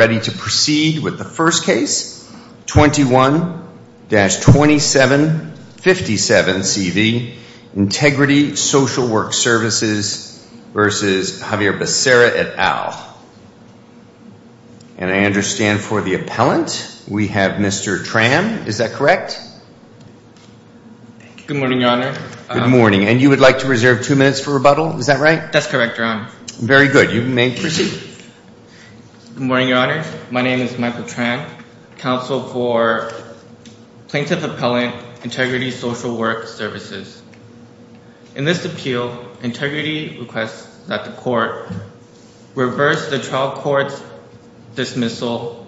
ready to proceed with the first case, 21-2757CV, Integrity Social Work Services versus Javier Becerra et al. And I understand for the appellant, we have Mr. Tram, is that correct? Good morning, Your Honor. Good morning. And you would like to reserve two minutes for rebuttal, is that right? That's correct, Your Honor. Very good. You may proceed. Good morning, Your Honor. My name is Michael Tram, counsel for Plaintiff Appellant, Integrity Social Work Services. In this appeal, Integrity requests that the court reverse the trial court's dismissal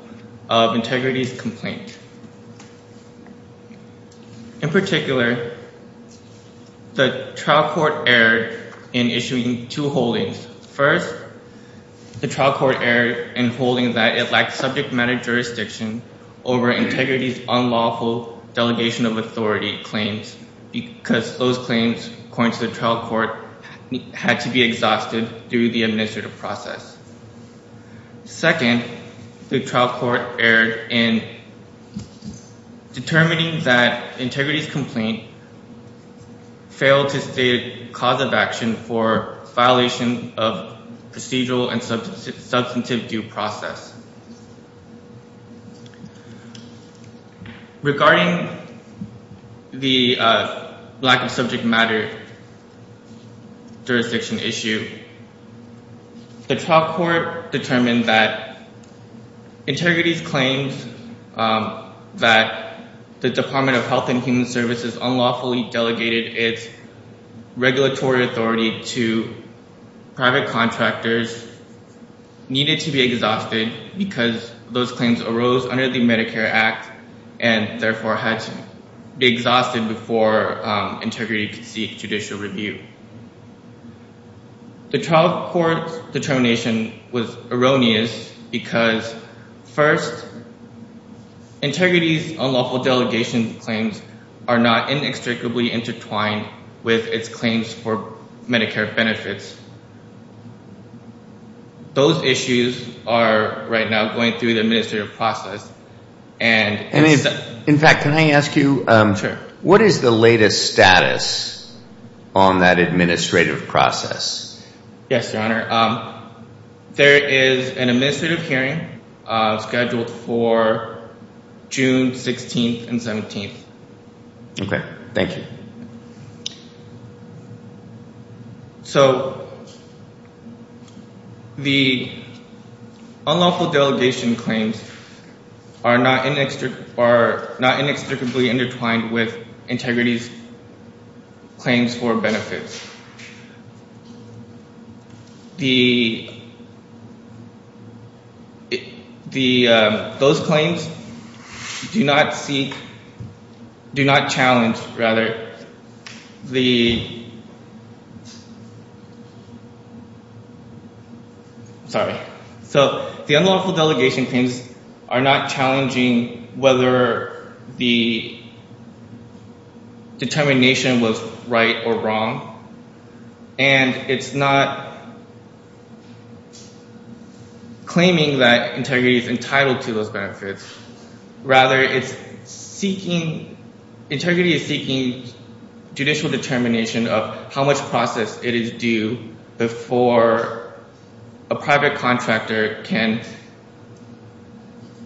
of Integrity's complaint. In particular, the trial court erred in issuing two holdings. First, the trial court erred in holding that it lacked subject matter jurisdiction over Integrity's unlawful delegation of authority claims because those claims, according to the trial court, had to be exhausted through the administrative process. Second, the trial court erred in determining that Integrity's complaint failed to state cause of action for violation of procedural and substantive due process. Regarding the lack of subject matter jurisdiction issue, the trial court determined that Integrity's claims that the Department of Health and Human Services unlawfully delegated its because those claims arose under the Medicare Act and therefore had to be exhausted before Integrity could seek judicial review. The trial court's determination was erroneous because, first, Integrity's unlawful delegation claims are not inextricably intertwined with its claims for the administrative process. In fact, can I ask you, what is the latest status on that administrative process? Yes, Your Honor. There is an administrative hearing scheduled for June 16th and 17th. Okay, thank you. So, the unlawful delegation claims are not inextricably intertwined with Integrity's benefits. Those claims do not challenge the... Sorry. So, the unlawful delegation claims are not challenging whether the benefits are right or wrong, and it's not claiming that Integrity's entitled to those benefits. Rather, Integrity is seeking judicial determination of how much process it is due before a private contractor can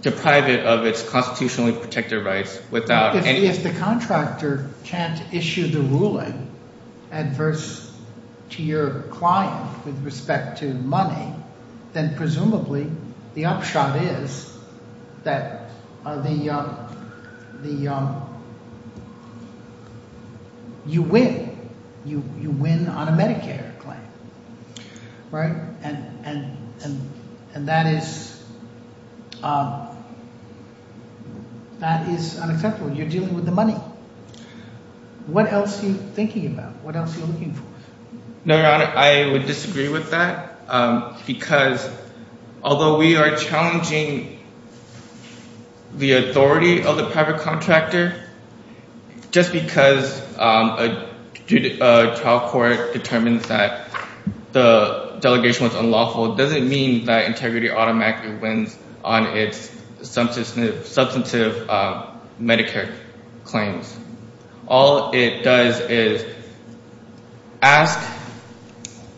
deprive it of those benefits. So, if you are adverse to your client with respect to money, then presumably, the upshot is that you win. You win on a Medicare claim, right? And that is unacceptable. You're dealing with the money. What else are you thinking about? What else are you looking for? No, Your Honor. I would disagree with that because, although we are challenging the authority of the private contractor, just because a trial court determines that the delegation was unlawful doesn't mean that Integrity automatically wins on its substantive Medicare claims. All it does is ask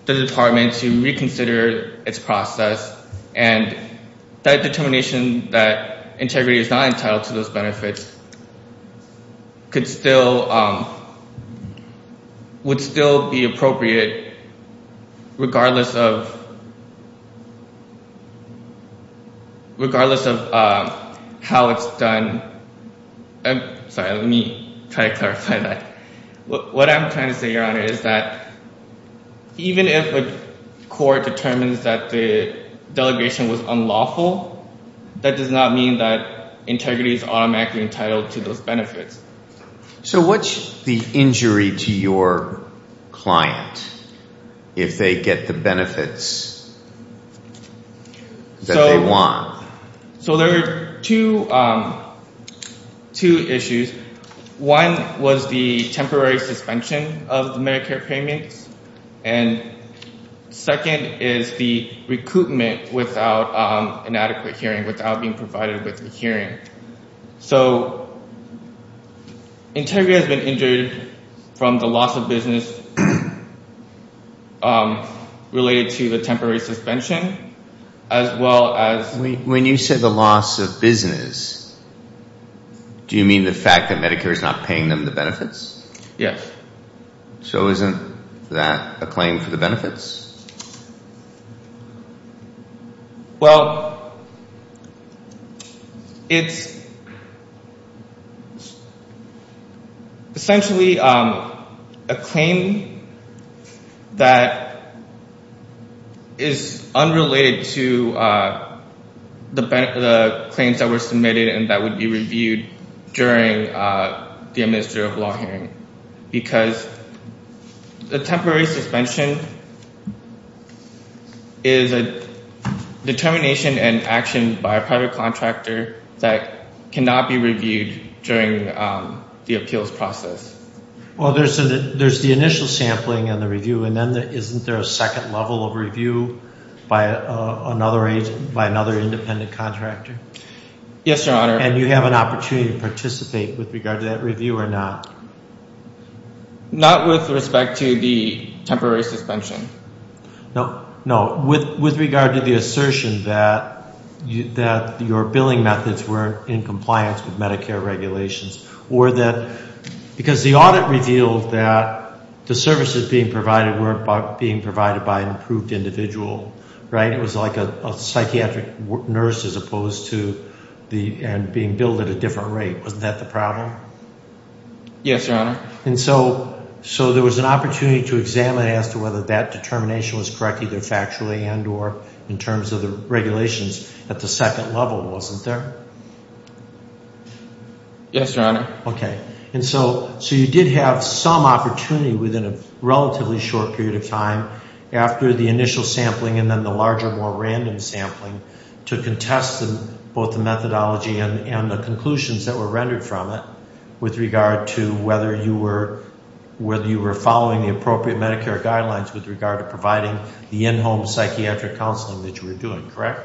the department to reconsider its process, and that determination that Integrity is not entitled to those benefits would still be appropriate regardless of how it's done. Sorry, let me try to clarify that. What I'm trying to say, Your Honor, is that even if a court determines that the delegation was unlawful, it's not entitled to those benefits. So, what's the injury to your client if they get the benefits that they want? So, there are two issues. One was the temporary suspension of the Medicare payments, and second is the recoupment without an adequate hearing, without being provided with a hearing. So, Integrity has been injured from the loss of business related to the temporary suspension as well as... When you say the loss of business, do you mean the fact that Medicare is not paying them the benefits? Yes. So, isn't that a claim for the benefits? Well, it's essentially a claim that is unrelated to the claims that were submitted and that would be reviewed during the administrative law hearing, because the temporary suspension is a determination and action by a private contractor that cannot be reviewed during the appeals process. Well, there's the initial sampling and the review, and then isn't there a second level of review by another independent contractor? Yes, Your Honor. And you have an opportunity to participate with regard to that review or not? Not with respect to the temporary suspension. No, with regard to the assertion that your billing methods were in compliance with Medicare regulations, or that... Because the audit revealed that the services being provided weren't being provided by an approved individual, right? It was like a psychiatric nurse as opposed to being billed at a different rate. Wasn't that the problem? Yes, Your Honor. And so, so there was an opportunity to examine as to whether that determination was correct, either factually and or in terms of the regulations at the second level, wasn't there? Yes, Your Honor. Okay. And so, so you did have some opportunity within a relatively short period of time after the initial sampling and then the larger, more random sampling to contest both the methodology and the conclusions that were rendered from it with regard to whether you were, whether you were following the appropriate Medicare guidelines with regard to providing the in-home psychiatric counseling that you were doing, correct?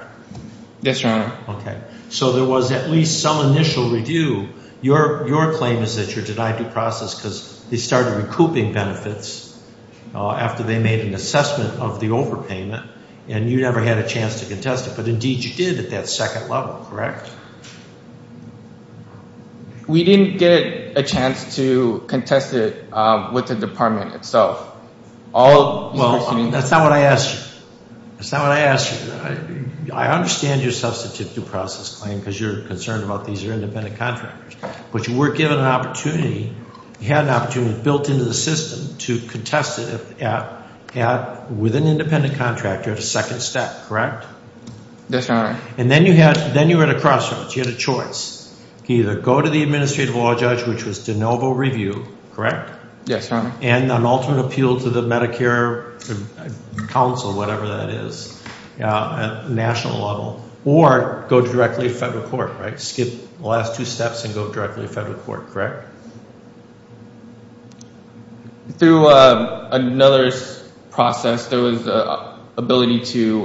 Yes, Your Honor. Okay. So there was at least some initial review. Your claim is that you're denied due process because they started recouping benefits after they made an assessment of the overpayment, and you never had a chance to contest it, but indeed you did at that second level, correct? We didn't get a chance to contest it with the department itself. Well, that's not what I asked you. That's not what I asked you. I understand your substitute due process claim because you're concerned about these are independent contractors, but you were given an opportunity, you had an opportunity built into the system to contest it at, with an independent contractor at a second step, correct? Yes, Your Honor. And then you had, then you were at a crossroads. You had a choice. You could either go to the administrative law judge, which was de novo review, correct? Yes, Your Honor. And an alternate appeal to the Medicare council, whatever that is, national level, or go directly to federal court, right? Skip the last two steps and go directly to federal court, correct? Through another process, there was the ability to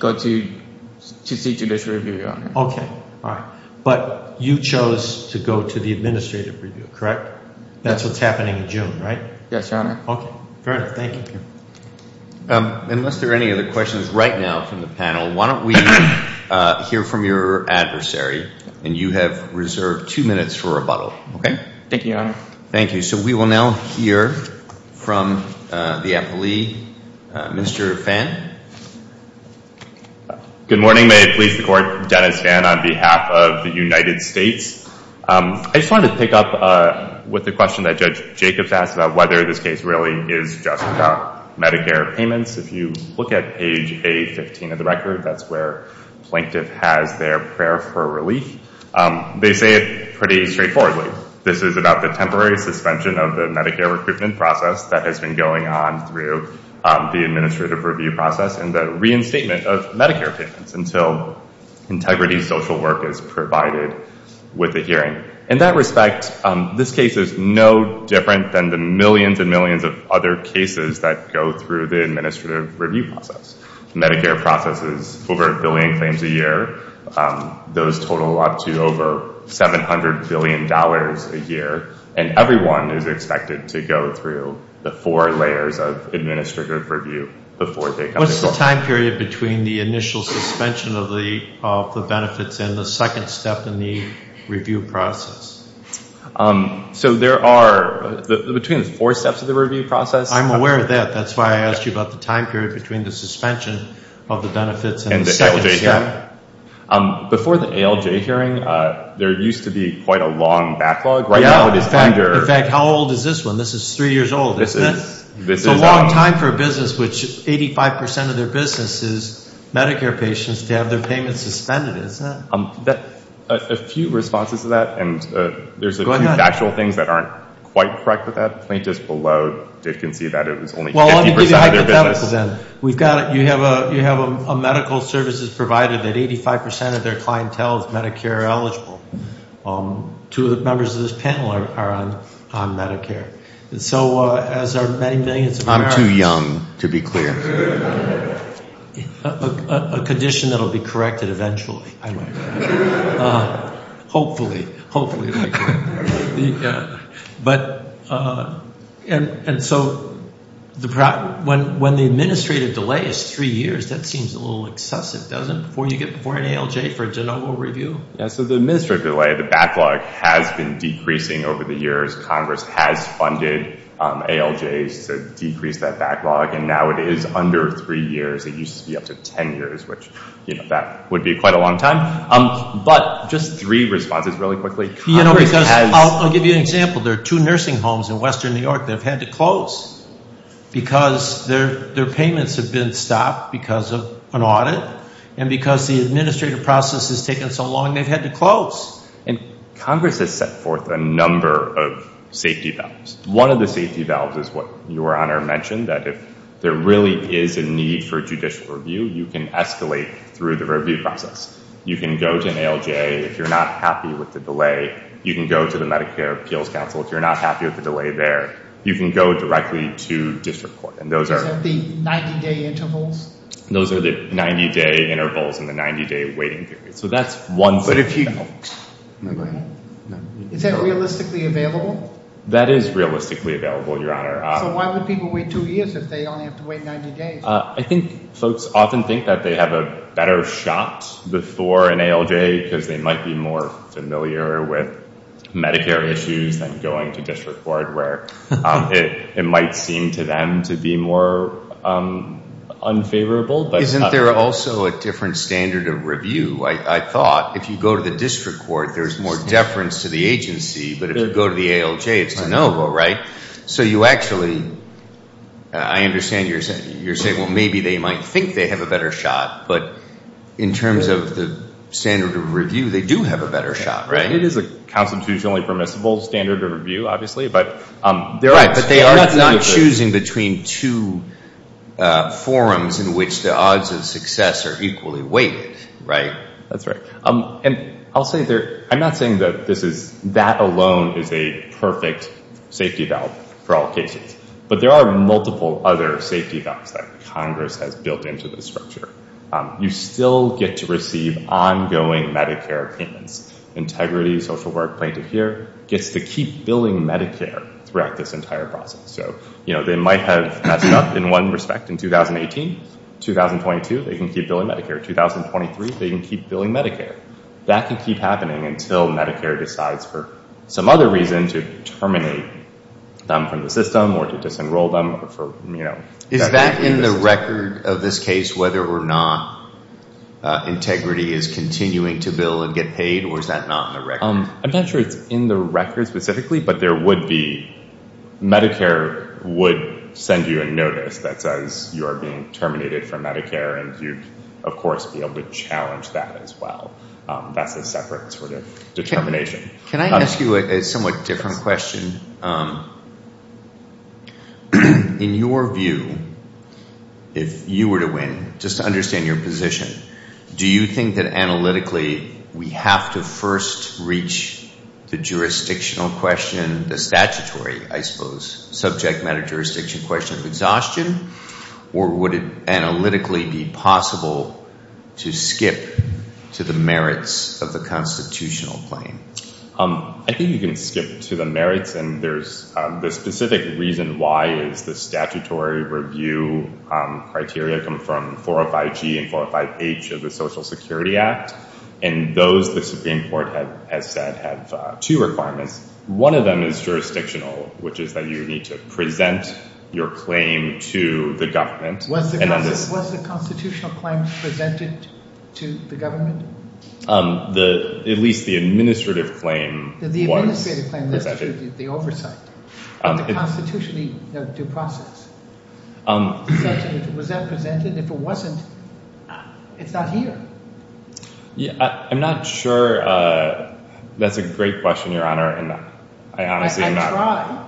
go to, to seek judicial review, Your Honor. Okay. All right. But you chose to go to the administrative review, correct? That's what's happening in June, right? Yes, Your Honor. Okay. Very good. Thank you. Unless there are any other questions right now from the panel, why don't we hear from your adversary? And you have reserved two minutes for rebuttal, okay? Thank you, Your Honor. Thank you. So we will now hear from the appellee, Mr. Fan. Good morning. May it please the Court, Dennis Fan on behalf of the United States. I just wanted to pick up with the question that Judge Jacobs asked about whether this case really is just about Medicare payments. If you look at page 15 of the record, that's where plaintiff has their prayer for relief. They say it pretty straightforwardly. This is about the temporary suspension of the Medicare recruitment process that has been going on through the administrative review process and the reinstatement of Medicare payments until integrity social work is provided with the hearing. In that respect, this case is no different than the millions and millions of other cases that go through the administrative review process. Medicare processes over a billion claims a year. Those total up to over $700 billion a year, and everyone is expected to go through the four layers of administrative review before they come to court. What's the time period between the initial suspension of the benefits and the second step in the review process? So there are, between the four steps I'm aware of that. That's why I asked you about the time period between the suspension of the benefits and the second step. Before the ALJ hearing, there used to be quite a long backlog. In fact, how old is this one? This is three years old. It's a long time for a business which 85 percent of their business is Medicare patients to have their payments suspended, isn't it? A few responses to that, and there's a few factual things that aren't quite correct about that. Plaintiffs below did concede that it was only 50 percent of their business. Well, let me give you hypothetical then. You have a medical services provider that 85 percent of their clientele is Medicare eligible. Two of the members of this panel are on Medicare. As are many millions of Americans. I'm too young to be clear. A condition that will be corrected eventually, I might add. Hopefully, hopefully. Yeah, and so when the administrative delay is three years, that seems a little excessive, doesn't it? Before you get before an ALJ for a de novo review. Yeah, so the administrative delay, the backlog has been decreasing over the years. Congress has funded ALJs to decrease that backlog, and now it is under three years. It used to be up to 10 years, which that would be quite a long time. But just three responses really quickly. I'll give you an example. There are two nursing homes in Western New York that have had to close because their payments have been stopped because of an audit, and because the administrative process has taken so long, they've had to close. Congress has set forth a number of safety valves. One of the safety valves is what Your Honor mentioned, that if there really is a need for judicial review, you can escalate through the ALJ. If you're not happy with the delay, you can go to the Medicare Appeals Council. If you're not happy with the delay there, you can go directly to district court. Is that the 90-day intervals? Those are the 90-day intervals and the 90-day waiting period. So that's one safety valve. Is that realistically available? That is realistically available, Your Honor. So why would people wait two years if they only have to wait 90 days? I think folks often think that they have a better shot before an ALJ because they might be more familiar with Medicare issues than going to district court, where it might seem to them to be more unfavorable. Isn't there also a different standard of review? I thought if you go to the district court, there's more deference to the agency, but if you go to the ALJ, it's de novo, right? So you actually, I understand you're saying, well, maybe they might think they have a better shot, but in terms of the standard of review, they do have a better shot, right? It is a constitutionally permissible standard of review, obviously, but there are... Right, but they are not choosing between two forums in which the odds of success are equally weighted, right? That's right. And I'll say there, I'm not saying that this is, that alone is a perfect safety valve for all cases, but there are multiple other safety valves that Congress has built into this structure. You still get to receive ongoing Medicare payments, integrity, social work, plaintiff here, gets to keep billing Medicare throughout this entire process. So they might have messed up in one respect in 2018, 2022, they can keep billing Medicare. 2023, they can keep billing Medicare. That can keep happening until Medicare decides for some other reason to terminate them from the system or to disenroll them. Is that in the record of this case, whether or not integrity is continuing to bill and get paid, or is that not in the record? I'm not sure it's in the record specifically, but there would be, Medicare would send you a notice that says you are being terminated from Medicare and you'd of course be able to challenge that as well. That's a separate sort of determination. Can I ask you a somewhat different question? In your view, if you were to win, just to understand your position, do you think that analytically we have to first reach the jurisdictional question, the statutory, I suppose, subject matter jurisdiction question of exhaustion, or would it analytically be possible to skip to the merits of the constitutional claim? I think you can skip to the merits. And there's the specific reason why is the statutory review criteria come from 405G and 405H of the Social Security Act. And those, the Supreme Court has said, have two requirements. One of them is jurisdictional, which is that you need to present your claim to the government. Was the constitutional claim presented to the government? At least the administrative claim was presented. The administrative claim, the oversight, and the constitutionally due process. Was that presented? If it wasn't, it's not here. I'm not sure. That's a great question, Your Honor, and I honestly am not.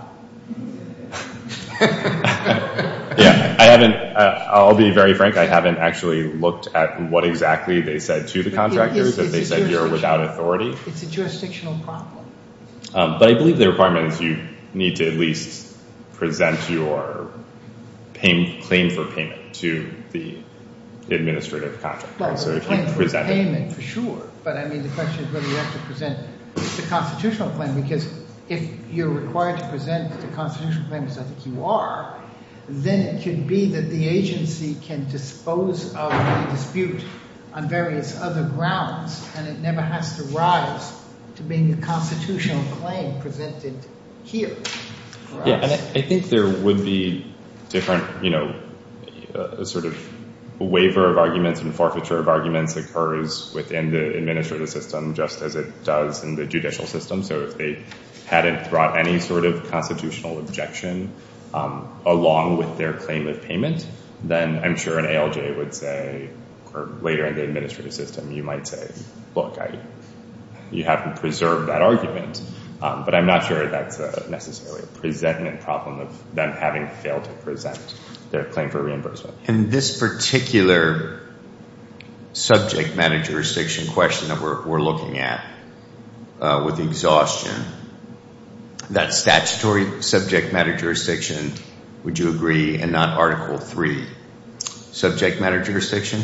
I haven't, I'll be very frank, I haven't actually looked at what exactly they said to the contractors that they said you're without authority. It's a jurisdictional problem. But I believe the requirement is you need to at least present your claim for payment to the administrative contractor. For sure. But I mean, the question is whether you have to present the constitutional claim, because if you're required to present the constitutional claim, as I think you are, then it could be that the agency can dispose of the dispute on various other grounds, and it never has to rise to being the constitutional claim presented here. Yeah, and I think there would be different, you know, a sort of waiver of arguments and forfeiture of arguments occurs within the administrative system, just as it does in the judicial system. So if they hadn't brought any sort of constitutional objection along with their claim of payment, then I'm sure an ALJ would say, or later in the administrative system, you might say, look, you haven't preserved that argument. But I'm not sure that's necessarily a presentment problem of them having failed to present their claim for reimbursement. In this particular subject matter jurisdiction question that we're looking at with exhaustion, that statutory subject matter jurisdiction, would you agree, and not Article III, subject matter jurisdiction?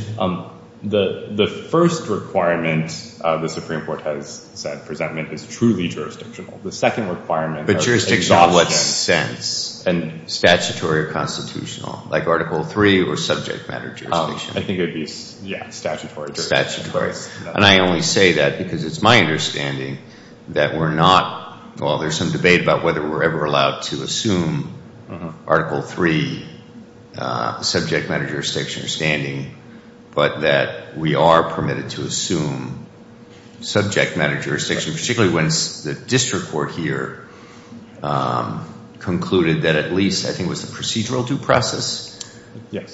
The first requirement, the Supreme Court has said, presentment is truly jurisdictional. The second requirement... But jurisdiction in what sense? Statutory or constitutional, like Article III or subject matter jurisdiction? I think it would be, yeah, statutory jurisdiction. Statutory. And I only say that because it's my understanding that we're not, well, there's some debate about whether we're ever allowed to assume Article III subject matter jurisdiction or standing, but that we are permitted to assume subject matter jurisdiction, particularly when the district court here concluded that at least, I think it was the procedural due process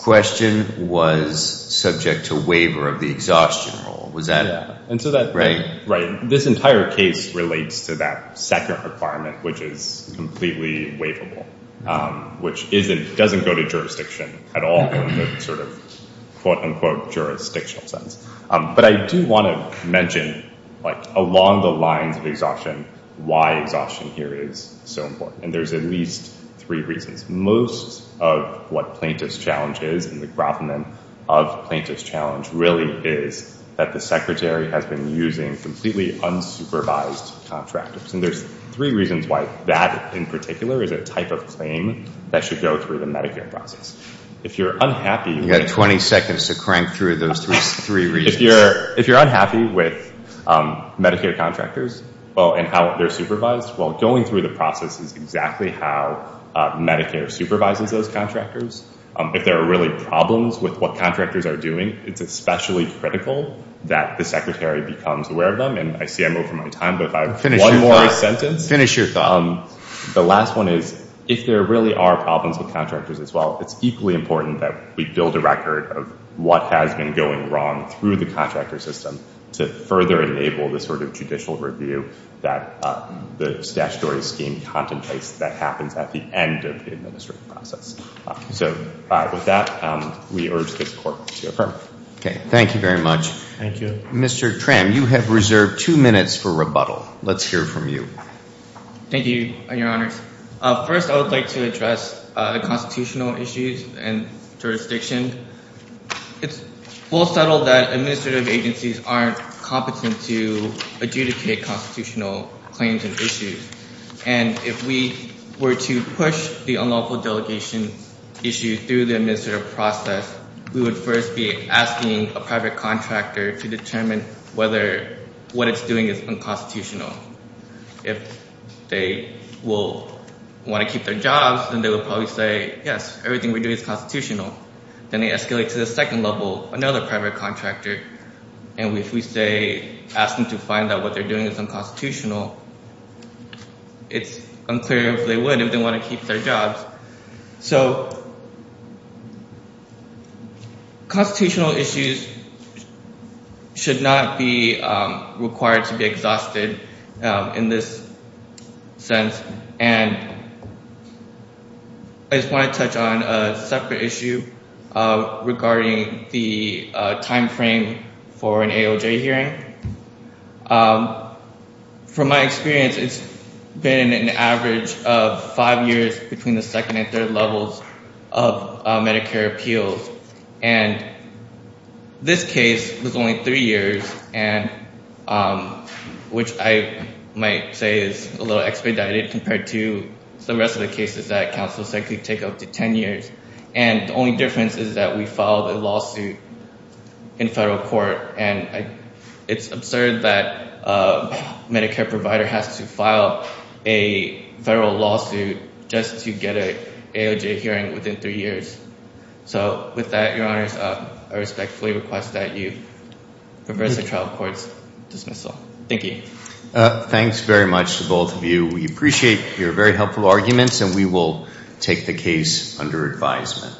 question was subject to waiver of the exhaustion rule. And so this entire case relates to that second requirement, which is completely waivable, which doesn't go to jurisdiction at all in the sort of, quote unquote, jurisdictional sense. But I do want to mention along the lines of exhaustion, why exhaustion here is so important. And there's at least three reasons. Most of what plaintiff's challenge is, of plaintiff's challenge really is that the secretary has been using completely unsupervised contractors. And there's three reasons why that in particular is a type of claim that should go through the Medicare process. If you're unhappy... You've got 20 seconds to crank through those three reasons. If you're unhappy with Medicare contractors and how they're supervised, well, going through the what contractors are doing, it's especially critical that the secretary becomes aware of them. And I see I'm over my time, but if I have one more sentence... Finish your thought. The last one is, if there really are problems with contractors as well, it's equally important that we build a record of what has been going wrong through the contractor system to further enable the sort of judicial review that the statutory scheme contemplates that happens at the end of the administrative process. So with that, we urge this court to occur. Okay. Thank you very much. Thank you. Mr. Tram, you have reserved two minutes for rebuttal. Let's hear from you. Thank you, your honors. First, I would like to address the constitutional issues and jurisdiction. It's well settled that administrative agencies aren't competent to push the unlawful delegation issue through the administrative process. We would first be asking a private contractor to determine whether what it's doing is unconstitutional. If they will want to keep their jobs, then they will probably say, yes, everything we're doing is constitutional. Then they escalate to the second level, another private contractor. And if we say, ask them to find out what they're doing is unconstitutional, it's unclear if they would, if they want to keep their jobs. So, constitutional issues should not be required to be exhausted in this sense. And I just want to touch on a separate issue regarding the time frame for an AOJ hearing. From my experience, it's been an average of five years between the second and third levels of Medicare appeals. And this case was only three years, which I might say is a little expedited compared to the rest of the cases that counsels actually take up to 10 years. And the only difference is that we filed a lawsuit in federal court. And it's absurd that a Medicare provider has to file a federal lawsuit just to get an AOJ hearing within three years. So with that, Your Honors, I respectfully request that you reverse the trial court's dismissal. Thank you. Thanks very much to both of you. We appreciate your very helpful arguments, and we will take the case under advisement.